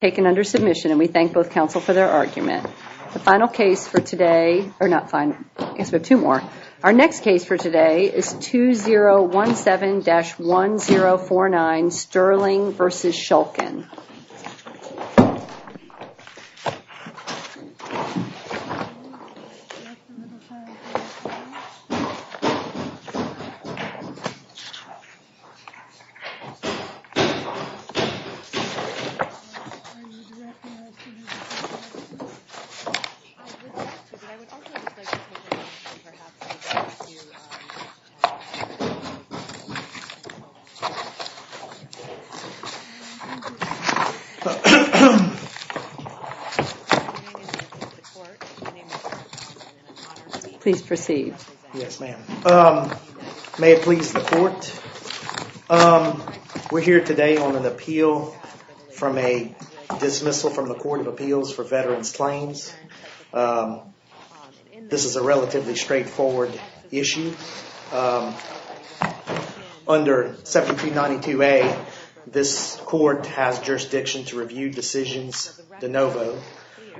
taken under submission and we thank both counsel for their argument. The final case for today, or not final, I guess we have two more. Our next case for today is 2017-1049 Sterling versus Shulkin Please proceed. Yes, ma'am. We're here today on an appeal from a dismissal from the Court of Appeals for Veterans Claims. This is a relatively straightforward issue. Under 1792A, this court has jurisdiction to review decisions de novo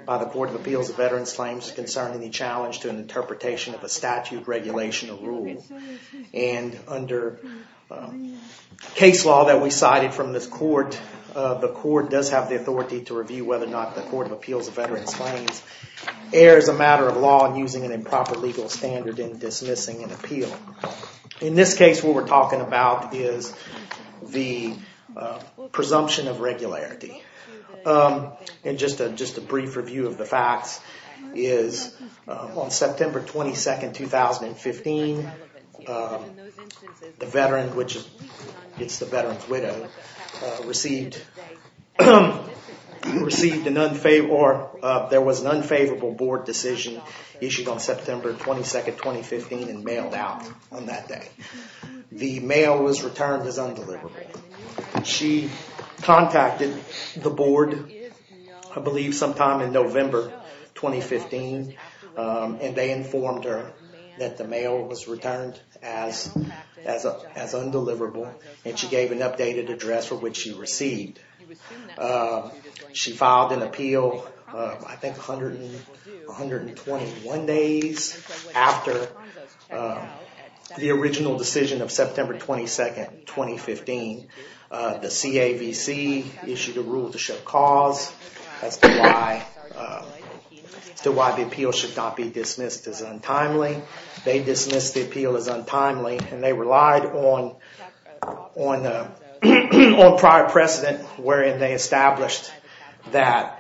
by the Court of Appeals of Veterans Claims concerning the challenge to an interpretation of a statute, regulation, or rule. And under case law that we cited from this court, the court does have the authority to review whether or not the Court of Appeals of Veterans Claims errs a matter of law and using an improper legal standard in dismissing an appeal. In this case, what we're talking about is the presumption of regularity. And just a brief review of the facts is on September 22nd, 2015, the veteran, which is the veteran's widow, received an unfavorable board decision issued on September 22nd, 2015 and mailed out on that day. The mail was returned as undeliverable. She contacted the board, I believe sometime in November 2015, and they informed her that the mail was returned as as undeliverable, and she gave an updated address for which she received. She filed an appeal, I think, 121 days after the original decision of September 22nd, 2015, the CAVC issued a rule to show cause as to why to why the appeal should not be dismissed as untimely. They dismissed the appeal as untimely, and they relied on on on prior precedent wherein they established that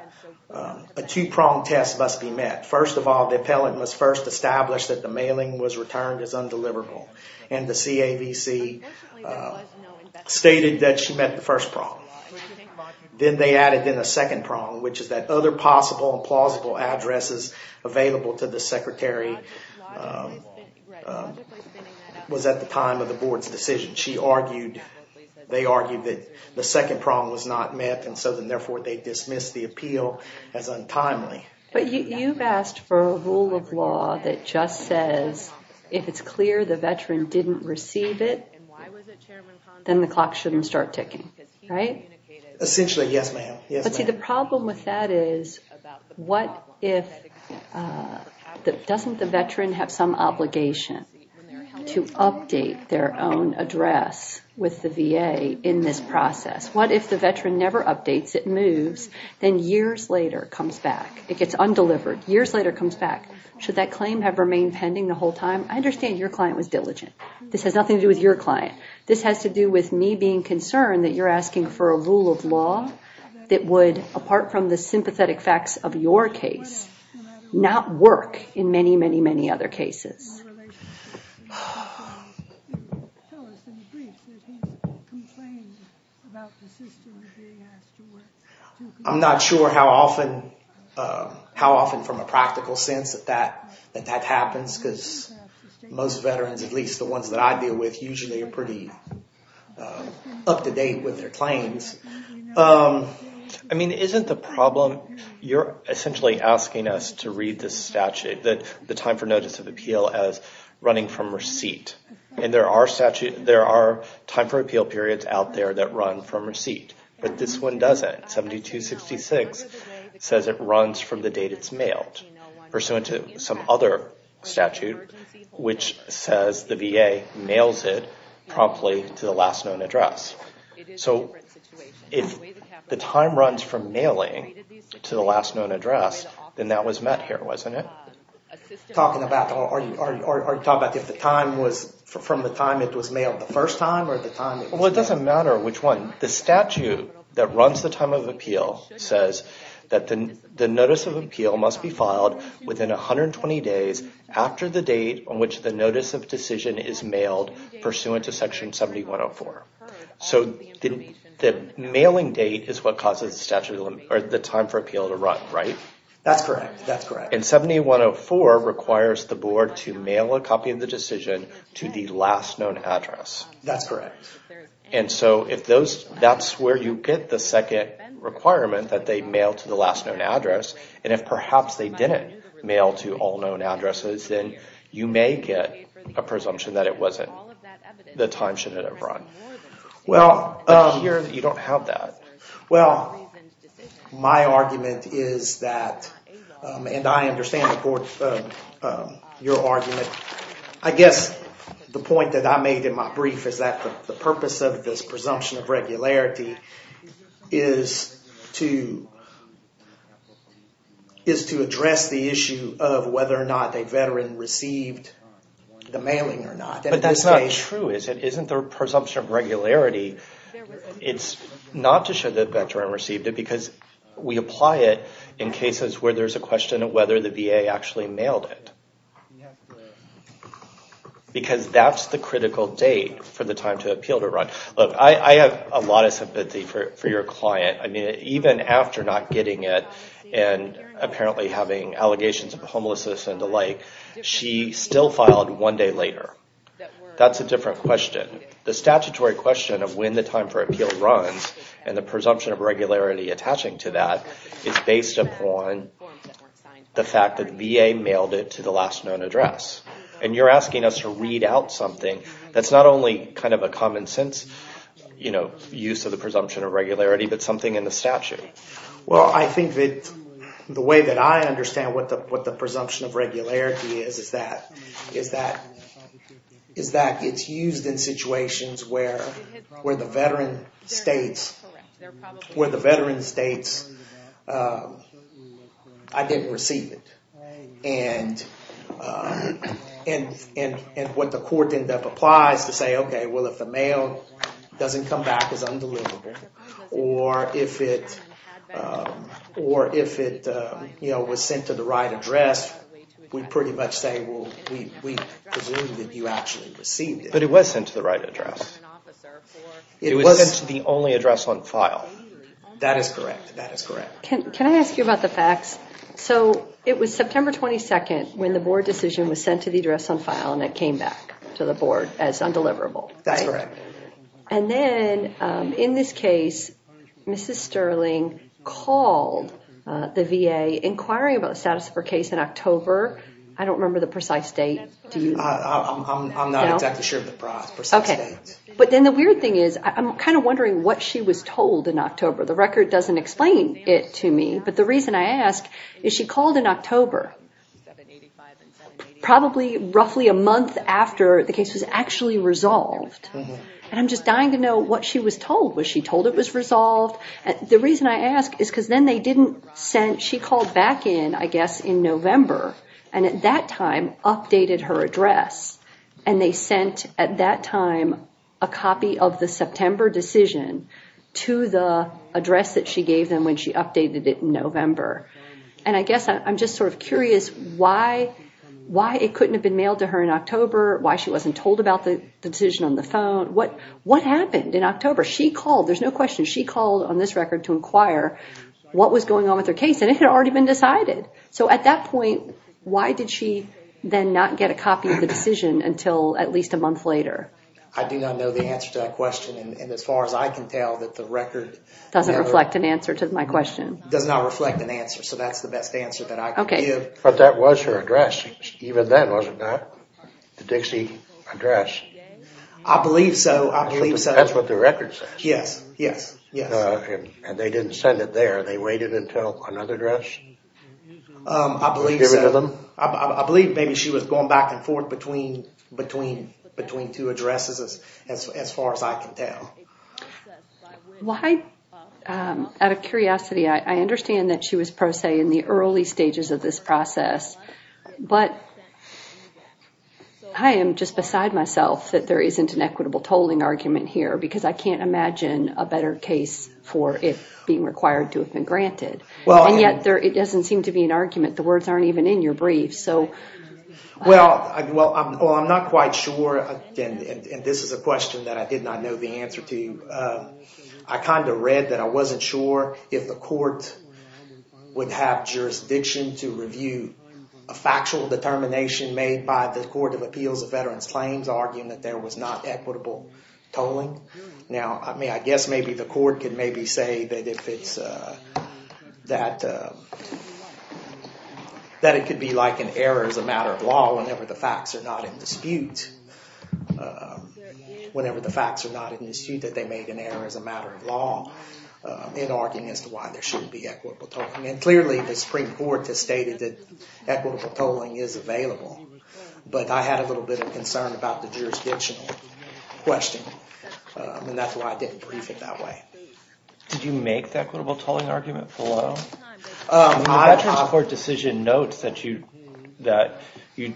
a two-pronged test must be met. First of all, the appellant must first establish that the mailing was returned as undeliverable, and the CAVC stated that she met the first prong. Then they added in a second prong, which is that other possible and plausible addresses available to the secretary was at the time of the board's decision. She argued, they argued that the second prong was not met, and so then therefore they dismissed the appeal as untimely. But you've asked for a rule of law that just says if it's clear the veteran didn't receive it, then the clock shouldn't start ticking, right? Essentially, yes, ma'am. Yes, ma'am. But see, the problem with that is, what if that doesn't the veteran have some obligation to update their own address with the VA in this process? What if the veteran never updates, it moves, then years later comes back. It gets undelivered, years later comes back. Should that claim have remained pending the whole time? I understand your client was diligent. This has nothing to do with your client. This has to do with me being concerned that you're asking for a rule of law that would, apart from the sympathetic facts of your case, not work in many, many, many other cases. I'm not sure how often, how often from a practical sense that that happens, because most veterans, at least the ones that I deal with, usually are pretty up-to-date with their claims. I mean, isn't the problem, you're essentially asking us to read this statute, that the time for notice of appeal as running from receipt. And there are statute, there are time for appeal periods out there that run from receipt. But this one doesn't. 7266 says it runs from the date it's mailed. Pursuant to some other statute, which says the VA mails it promptly to the last known address. So, if the time runs from mailing to the last known address, then that was met here, wasn't it? Talking about, are you talking about if the time was, from the time it was mailed the first time, or the time... Well, it doesn't matter which one. The statute that runs the time of appeal says that the notice of appeal must be filed within 120 days after the date on which the notice of decision is mailed, pursuant to section 7104. So, the mailing date is what causes the statute, or the time for appeal to run, right? That's correct. That's correct. And 7104 requires the board to mail a copy of the decision to the last known address. That's correct. And so, if those, that's where you get the second requirement that they mail to the last known address, and if perhaps they didn't mail to all known addresses, then you may get a presumption that it wasn't, the time shouldn't have run. Well, you don't have that. Well, my argument is that, and I understand your argument, I guess the point that I made in my brief is that the purpose of this presumption of regularity is to, is to address the issue of whether or not a veteran received the mailing or not. But that's not true, is it? Isn't the presumption of regularity, it's not to show that veteran received it, because we apply it in cases where there's a question of whether the VA actually mailed it. Because that's the critical date for the time to appeal to run. Look, I have a lot of sympathy for your client. I mean, even after not getting it, and apparently having allegations of homelessness and the like, she still filed one day later. That's a different question. The statutory question of when the time for appeal runs, and the presumption of regularity attaching to that, is based upon the fact that VA mailed it to the last known address. And you're asking us to read out something that's not only kind of a common-sense, you know, use of the presumption of regularity, but something in the statute. Well, I think that the way that I understand what the presumption of regularity is, is that, is that, is that it's used in situations where, where the veteran states, where the veteran states, I didn't receive it. And, and, and, and what the court end up applies to say, okay, well if the mail doesn't come back as undeliverable, or if it, or if it, you know, was sent to the right address, we pretty much say, well, we presumed that you actually received it. But it was sent to the right address. It was sent to the only address on file. That is correct. That is correct. Can I ask you about the facts? So, it was September 22nd when the board decision was sent to the address on file, and it came back to the board as September 22nd. And then, in this case, Mrs. Sterling called the VA inquiring about the status of her case in October. I don't remember the precise date. But then the weird thing is, I'm kind of wondering what she was told in October. The record doesn't explain it to me. But the reason I ask, is she called in October, probably roughly a month after the case was actually resolved, and I'm just dying to know what she was told. Was she told it was resolved? And the reason I ask, is because then they didn't send, she called back in, I guess, in November, and at that time, updated her address. And they sent, at that time, a copy of the September decision to the address that she gave them when she updated it in November. And I guess I'm just sort of curious why it couldn't have been mailed to her in October, why she wasn't told about the decision on the phone. What happened in October? She called, there's no question, she called on this record to inquire what was going on with her case, and it had already been decided. So, at that point, why did she then not get a copy of the decision until at least a month later? I do not know the answer to that question, and as far as I can tell, that the record doesn't reflect an answer to my question. It does not reflect an answer, so that's the best answer that I can give. But that was her address, even then, was it not? The Dixie address. I believe so. I believe so. That's what the record says. Yes, yes, yes. And they didn't send it there. They waited until another address? I believe so. I believe maybe she was going back and forth between, between, between two addresses, as far as I can tell. Well, I, out of curiosity, I understand that she was pro se in the early stages of this process, but I am just beside myself that there isn't an equitable tolling argument here, because I can't imagine a better case for it being required to have been granted. And yet, there, it doesn't seem to be an argument. The words aren't even in your brief, so. Well, well, I'm not quite sure, and this is a question that I did not know the answer to. I kind of read that I wasn't sure if the court would have jurisdiction to review a factual determination made by the Court of Appeals of Veterans Claims, arguing that there was not equitable tolling. Now, I mean, I guess maybe the court could maybe say that if it's, that, that it could be like an error as a matter of law, whenever the facts are not in dispute, whenever the facts are not in dispute, that they made an error as a matter of law in arguing as to why there shouldn't be equitable tolling. And clearly, the Supreme Court has stated that equitable tolling is available, but I had a little bit of concern about the jurisdictional question, and that's why I didn't brief it that way. Did you make the equitable tolling argument below? The Veterans Court decision notes that you, that you,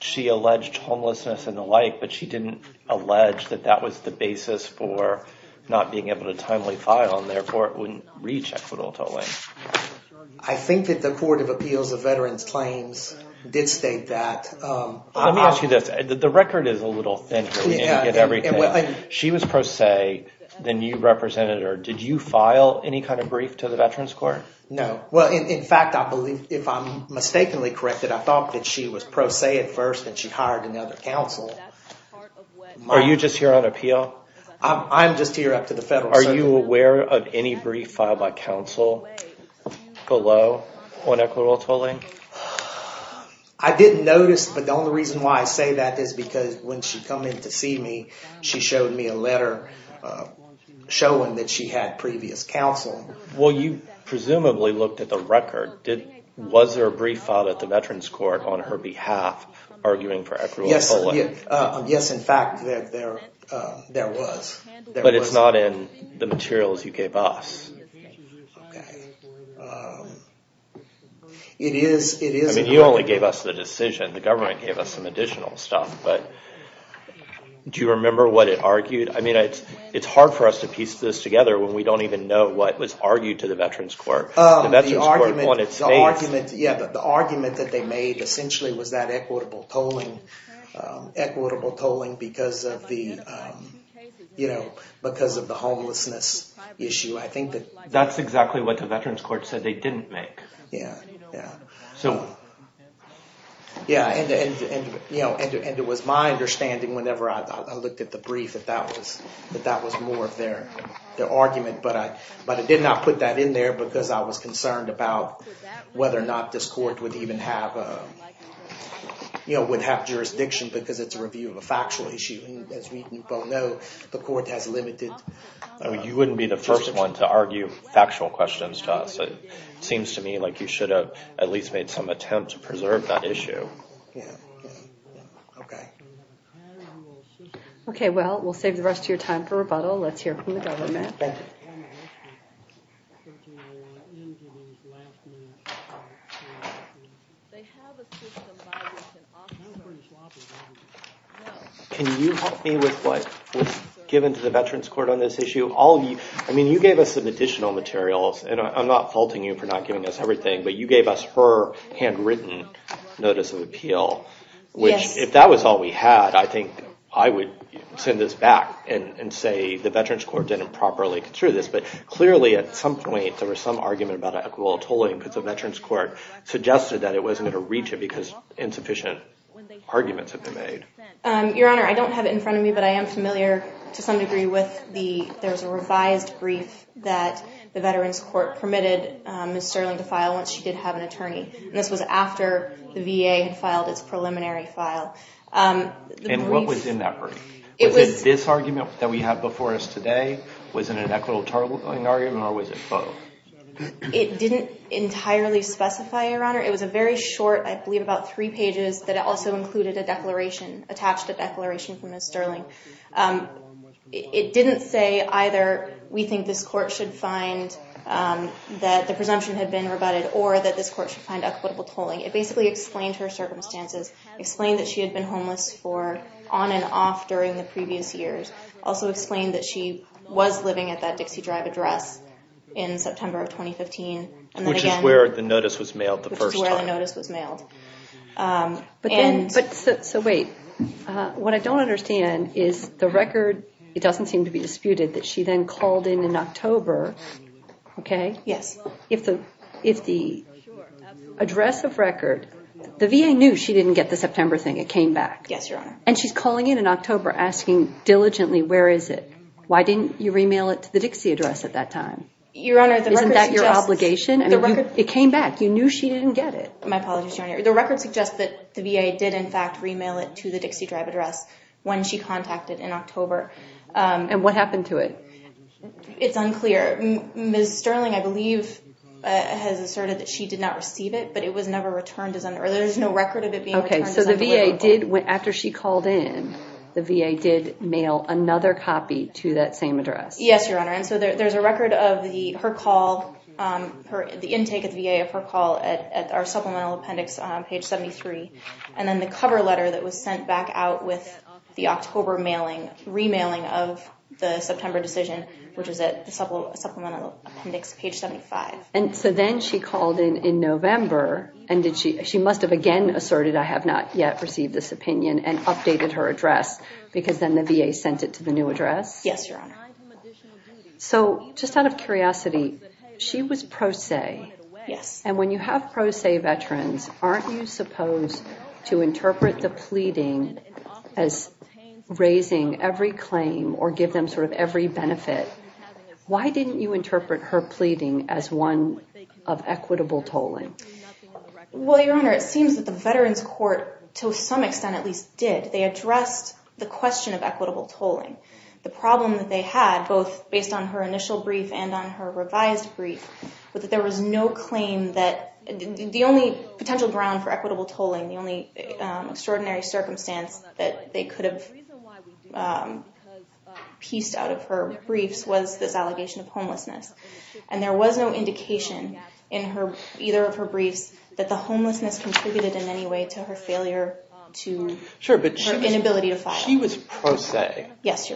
she alleged homelessness and the like, but she didn't allege that that was the basis for not being able to timely file, and therefore it wouldn't reach equitable tolling. I think that the Court of Appeals of Veterans Claims did state that. Let me ask you this. The record is a little thin here. We need to get everything. She was pro se, then you represented her. Did you file any kind of brief to the Veterans Court? No. Well, in fact, I believe, if I'm mistakenly corrected, I thought that she was pro se at first, and she hired another counsel. Are you just here on appeal? I'm just here up to the federal level. Are you aware of any brief filed by counsel below on equitable tolling? I didn't notice, but the only reason why I say that is because when she come in to see me, she showed me a letter showing that she had previous counsel. Well, you presumably looked at the record. Was there a brief filed at the Veterans Court on her behalf arguing for equitable tolling? Yes. Yes, in fact, there was. But it's not in the materials you gave us. It is. I mean, you only gave us the decision. The government gave us some additional stuff, but do you remember what it argued? I mean, it's hard for us to piece this together when we don't even know what was argued to the Veterans Court. Yeah, but the argument that they made essentially was that equitable tolling equitable tolling because of the, you know, because of the homelessness issue. I think that that's exactly what the Veterans Court said they didn't make. Yeah. So, yeah, and you know, and it was my understanding whenever I looked at the brief that that was, that that was more of their argument, but I, but I did not put that in there because I was concerned about whether or not this court would even have you know, would have jurisdiction because it's a review of a factual issue. As we both know, the court has limited. I mean, you wouldn't be the first one to argue factual questions to us. It seems to me like you should have at least made some attempt to preserve that issue. Okay, well, we'll save the rest of your time for rebuttal. Let's hear from the government. Can you help me with what was given to the Veterans Court on this issue? All of you, I mean, you gave us some additional materials, and I'm not faulting you for not giving us everything, but you gave us her handwritten notice of appeal, which, if that was all we had, I think I would send this back and say the Veterans Court didn't properly consider this, but clearly at some point there was some argument about equitable tolling because the Veterans Court suggested that it wasn't going to reach it because insufficient arguments have been made. Your Honor, I don't have it in front of me, but I am familiar to some degree with the, there's a revised brief that the Veterans Court permitted Ms. Sterling to file once she did have an attorney, and this was after the VA had filed its preliminary file. And what was in that brief? Was it this argument that we have before us today? Was it an equitable tolling argument, or was it both? It didn't entirely specify, Your Honor. It was a very short, I believe about three pages, that it also included a declaration, attached a declaration from Ms. Sterling. It didn't say either, we think this court should find that the presumption had been rebutted, or that this court should find equitable tolling. It basically explained her circumstances, explained that she had been homeless for on and off during the previous years, also explained that she was living at that Dixie Drive address in But then, so wait, what I don't understand is the record, it doesn't seem to be disputed, that she then called in in October, okay? Yes. If the, if the address of record, the VA knew she didn't get the September thing, it came back. Yes, Your Honor. And she's calling in in October asking diligently, where is it? Why didn't you remail it to the Dixie address at that time? Your Honor, isn't that your obligation? It came back, you knew she didn't get it. My apologies, Your Honor. The record suggests that the VA did in fact remail it to the Dixie Drive address when she contacted in October. And what happened to it? It's unclear. Ms. Sterling, I believe, has asserted that she did not receive it, but it was never returned as under, or there's no record of it being returned. Okay, so the VA did, after she called in, the VA did mail another copy to that same address. Yes, Your Honor, and so there's a record of the, her call, her, the intake at the VA of her call at our Supplemental Appendix on page 73, and then the cover letter that was sent back out with the October mailing, remailing of the September decision, which is at the Supplemental Appendix page 75. And so then she called in in November, and did she, she must have again asserted, I have not yet received this opinion, and updated her address, because then the VA sent it to the new address? Yes, Your Honor. So, just out of curiosity, she was pro se, and when you have pro se veterans, aren't you supposed to interpret the pleading as raising every claim, or give them sort of every benefit? Why didn't you interpret her pleading as one of equitable tolling? Well, Your Honor, it seems that the Veterans Court, to some extent at least, did. They addressed the question of equitable tolling. The problem that they had, both based on her initial brief, and on her revised brief, was that there was no claim that, the only potential ground for equitable tolling, the only extraordinary circumstance that they could have pieced out of her briefs, was this allegation of homelessness. And there was no indication in her, either of her briefs, that the claim was equitable tolling,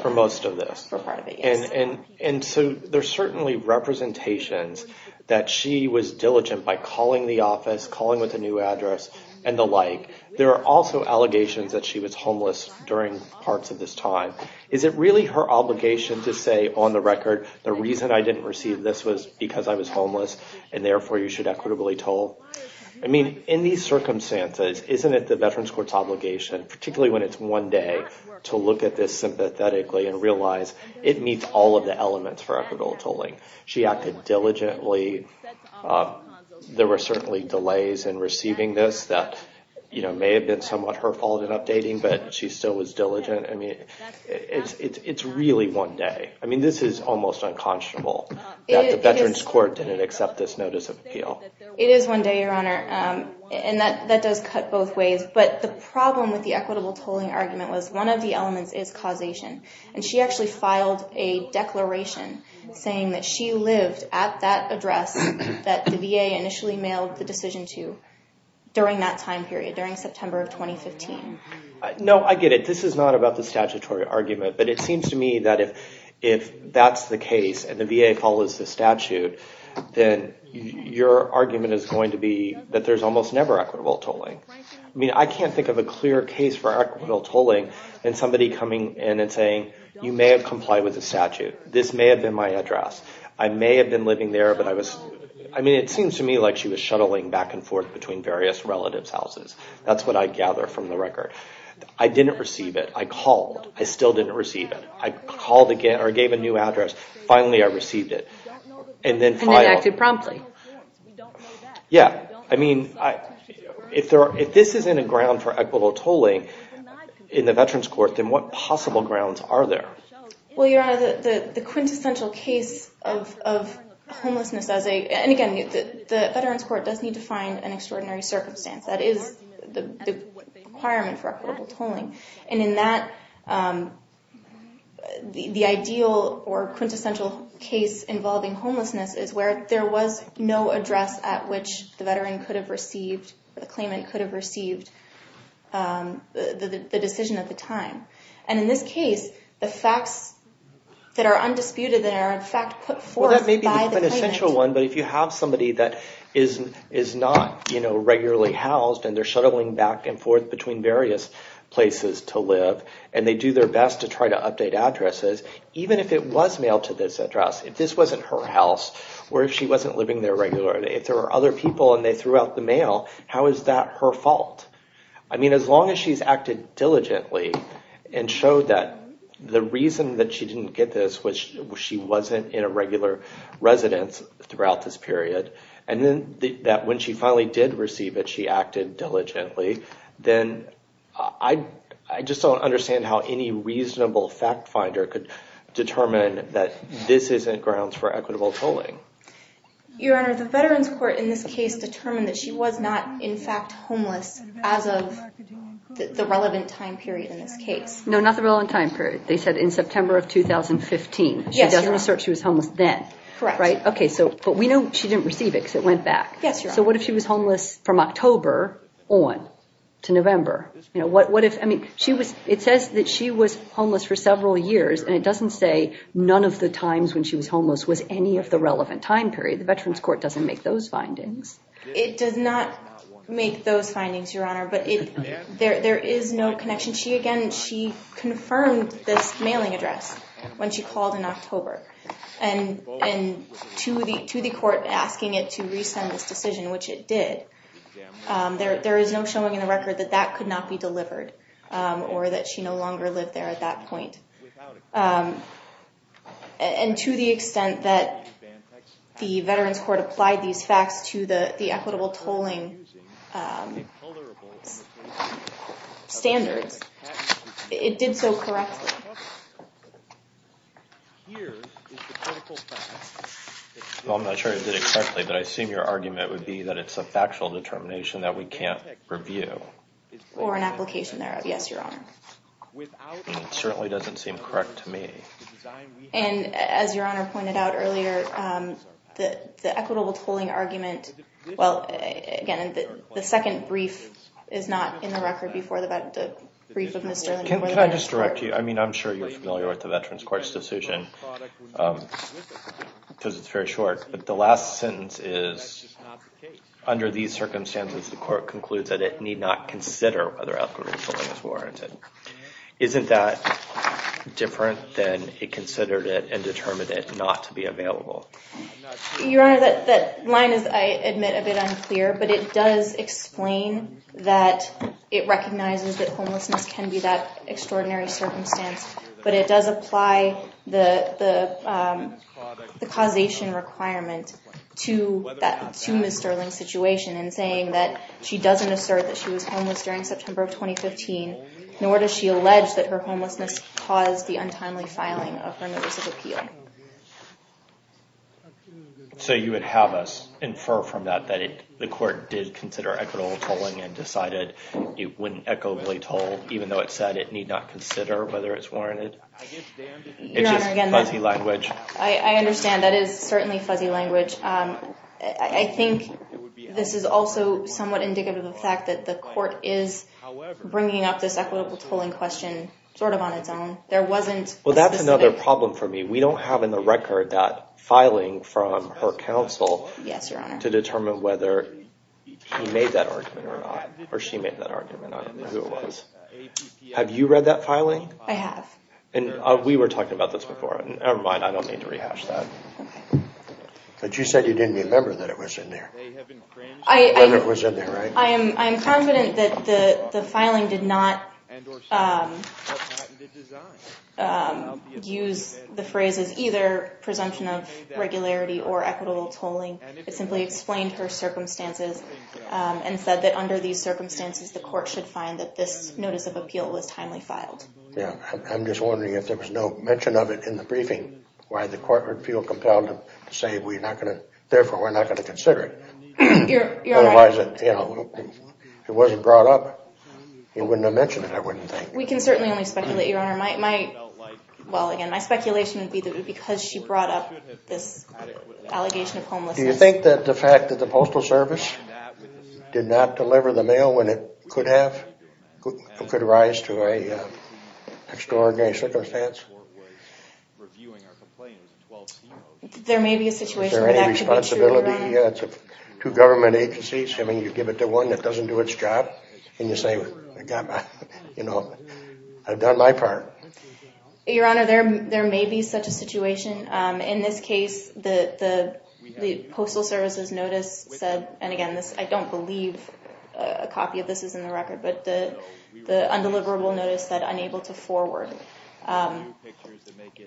for most of this. For part of it, yes. And, and so there's certainly representations that she was diligent by calling the office, calling with a new address, and the like. There are also allegations that she was homeless during parts of this time. Is it really her obligation to say, on the record, the reason I didn't receive this was because I was homeless, and therefore you should equitably toll? I mean, in these circumstances, isn't it the Veterans Court's obligation, particularly when it's one day, to look at this sympathetically, and realize it meets all of the elements for equitable tolling. She acted diligently. There were certainly delays in receiving this that, you know, may have been somewhat her fault in updating, but she still was diligent. I mean, it's, it's really one day. I mean, this is almost unconscionable that the Veterans Court didn't accept this notice of appeal. It is one day, Your Honor, and that, that does cut both ways, but the problem with the equitable tolling argument was one of the elements is causation, and she actually filed a declaration saying that she lived at that address that the VA initially mailed the decision to during that time period, during September of 2015. No, I get it. This is not about the statutory argument, but it seems to me that if, if that's the case, and the VA follows the statute, then your argument is going to be that there's almost never equitable tolling. I mean, I can't think of a clear case for equitable tolling and somebody coming in and saying you may have complied with the statute. This may have been my address. I may have been living there, but I was, I mean, it seems to me like she was shuttling back and forth between various relatives' houses. That's what I gather from the record. I didn't receive it. I called. I still didn't receive it. I called again, or gave a new address. Finally, I received it, and then filed. And then acted promptly. Yeah, I mean, I, if there, if this isn't a ground for equitable tolling in the Veterans Court, then what possible grounds are there? Well, Your Honor, the, the quintessential case of, of homelessness as a, and again, the Veterans Court does need to find an extraordinary circumstance. That is the requirement for equitable tolling, and in that, the, the ideal or quintessential case involving homelessness is where there was no address at which the veteran could have received, the claimant could have received the, the decision at the time. And in this case, the facts that are undisputed, that are in fact put forth by the claimant. Well, that may be an essential one, but if you have somebody that is, is not, you know, regularly housed, and they're shuttling back and forth between various places to live, and they do their best to try to update addresses, even if it was mailed to this address, if this wasn't her house, or if she wasn't living there regularly, if there were other people, and they threw out the mail, how is that her fault? I mean, as long as she's acted diligently, and showed that the reason that she didn't get this was she wasn't in a regular residence throughout this period, and then that when she finally did receive it, she acted diligently, then I, I just don't understand how any reasonable fact finder could determine that this isn't grounds for equitable tolling. Your Honor, the Veterans Court in this case determined that she was not, in fact, homeless as of the relevant time period in this case. No, not the relevant time period. They said in September of 2015. She doesn't assert she was homeless then. Correct. Right, okay, so, but we know she didn't receive it because it went back. Yes, Your Honor. So what if she was homeless from October on to November? You know, what, what if, I mean, she was, it says that she was homeless for several years, and it doesn't say none of the times when she was homeless was any of the relevant time period. The Veterans Court doesn't make those findings. It does not make those findings, Your Honor, but it, there, there is no connection. She, again, she confirmed this mailing address when she called in October, and, and to the, to the court asking it to resend this decision, which it did. There, there is no showing in the record that that could not be delivered, or that she no longer lived there at that point. And to the extent that the Veterans Court applied these facts to the, the equitable tolling standards, it did so correctly. Well, I'm not sure it did it correctly, but I assume your argument would be that it's a factual determination that we can't review. Or an application thereof. Yes, Your Honor. It certainly doesn't seem correct to me. And as Your Honor pointed out earlier, the equitable tolling argument, well, again, the second brief is not in the record before the brief of Ms. Sterling or the Veterans Court. Can I just direct you, I mean, I'm sure you're familiar with the Veterans Court's decision, because it's very short, but the last sentence is, under these circumstances, the court concludes that it need not consider whether equitable tolling is warranted. Isn't that different than it considered it and determined it not to be available? Your Honor, that, that line is, I admit, a bit unclear, but it does explain that it recognizes that homelessness can be that extraordinary circumstance, but it does apply the, the the causation requirement to that, to Ms. Sterling's situation in saying that she doesn't assert that she was homeless during the cause of the untimely filing of her notice of appeal. So you would have us infer from that, that it, the court did consider equitable tolling and decided it wouldn't echoably toll, even though it said it need not consider whether it's warranted? It's just fuzzy language. I understand. That is certainly fuzzy language. I think this is also somewhat indicative of the fact that the court is bringing up this equitable tolling question sort of on its own. There wasn't... Well, that's another problem for me. We don't have in the record that filing from her counsel... Yes, Your Honor. ...to determine whether he made that argument or not, or she made that argument. I don't know who it was. Have you read that filing? I have. And we were talking about this before, and never mind, I don't need to rehash that. But you said you didn't remember that it was in there. I am confident that the filing did not use the phrase as either presumption of regularity or equitable tolling. It simply explained her circumstances and said that under these circumstances, the court should find that this notice of appeal was timely filed. Yeah, I'm just wondering if there was no mention of it in the briefing, why the court would feel compelled to say we're not going to... Your Honor... Otherwise, you know, it wasn't brought up. It wouldn't have mentioned it, I wouldn't think. We can certainly only speculate, Your Honor. My... Well, again, my speculation would be that it was because she brought up this allegation of homelessness. Do you think that the fact that the Postal Service did not deliver the mail when it could have, could rise to a extraordinary circumstance? Two government agencies, I mean, you give it to one that doesn't do its job, and you say, you know, I've done my part. Your Honor, there may be such a situation. In this case, the Postal Service's notice said, and again, I don't believe a copy of this is in the record, but the undeliverable notice said, unable to forward.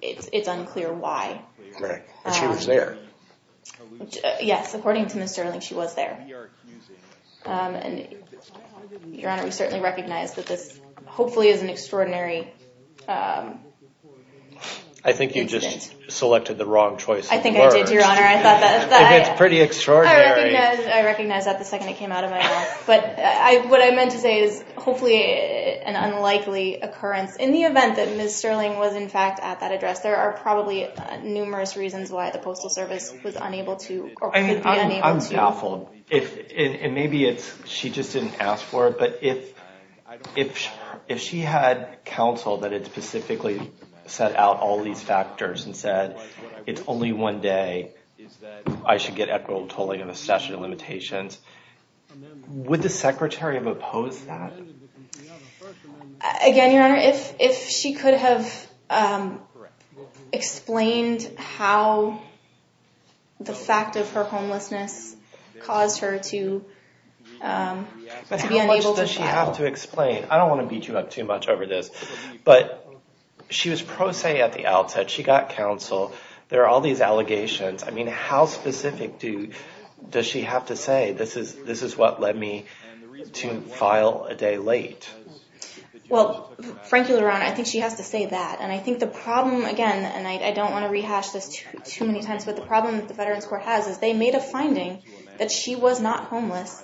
It's unclear why. But she was there. Yes, according to Ms. Sterling, she was there. And, Your Honor, we certainly recognize that this hopefully is an extraordinary incident. I think you just selected the wrong choice of words. I think I did, Your Honor. I thought that... It's pretty extraordinary. I recognize that the second it came out of my mouth, but I, what I meant to say is hopefully an unlikely occurrence. In the event that Ms. Sterling was, in fact, at that address, there are probably numerous reasons why the Postal Service was unable to, or could be unable to... I'm baffled. If, and maybe it's, she just didn't ask for it, but if, if, if she had counseled that it specifically set out all these factors and said, it's only one day, is that I should get equitable tolling of a statute of limitations, would the Secretary have opposed that? Again, Your Honor, if, if she could have explained how the fact of her homelessness caused her to, to be unable to file... But how much does she have to explain? I don't want to beat you up too much over this, but she was pro se at the outset. She got counsel. There are all these allegations. I mean, how specific do, does she have to say, this is, this is what led me to file a day late? Well, frankly, Your Honor, I think she has to say that. And I think the problem, again, and I don't want to rehash this too many times, but the problem that the Veterans Court has is they made a finding that she was not homeless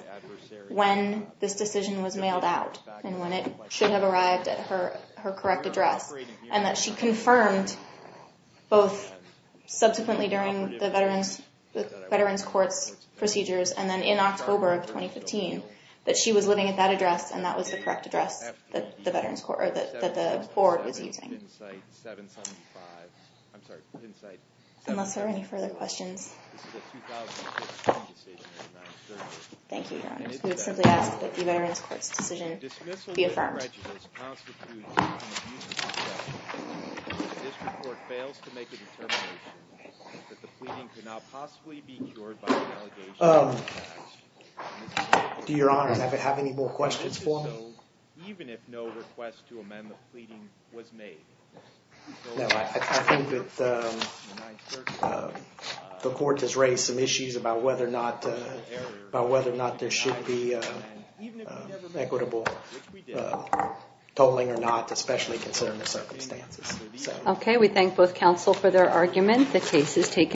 when this decision was mailed out and when it should have arrived at her, her correct address, and that she confirmed both subsequently during the Veterans, the Veterans Court's procedures, and then in October of 2015, that she was living at that address, and that was the correct address that the Veterans Court, or that the board was using. Unless there are any further questions. Thank you, Your Honor. We would simply ask that the Veterans Court's decision be affirmed. Your Honor, do you have any more questions for me? The court has raised some issues about whether or not, about whether or not there should be equitable totaling or not, especially considering the circumstances. Okay, we thank both counsel for their argument. The case is taken.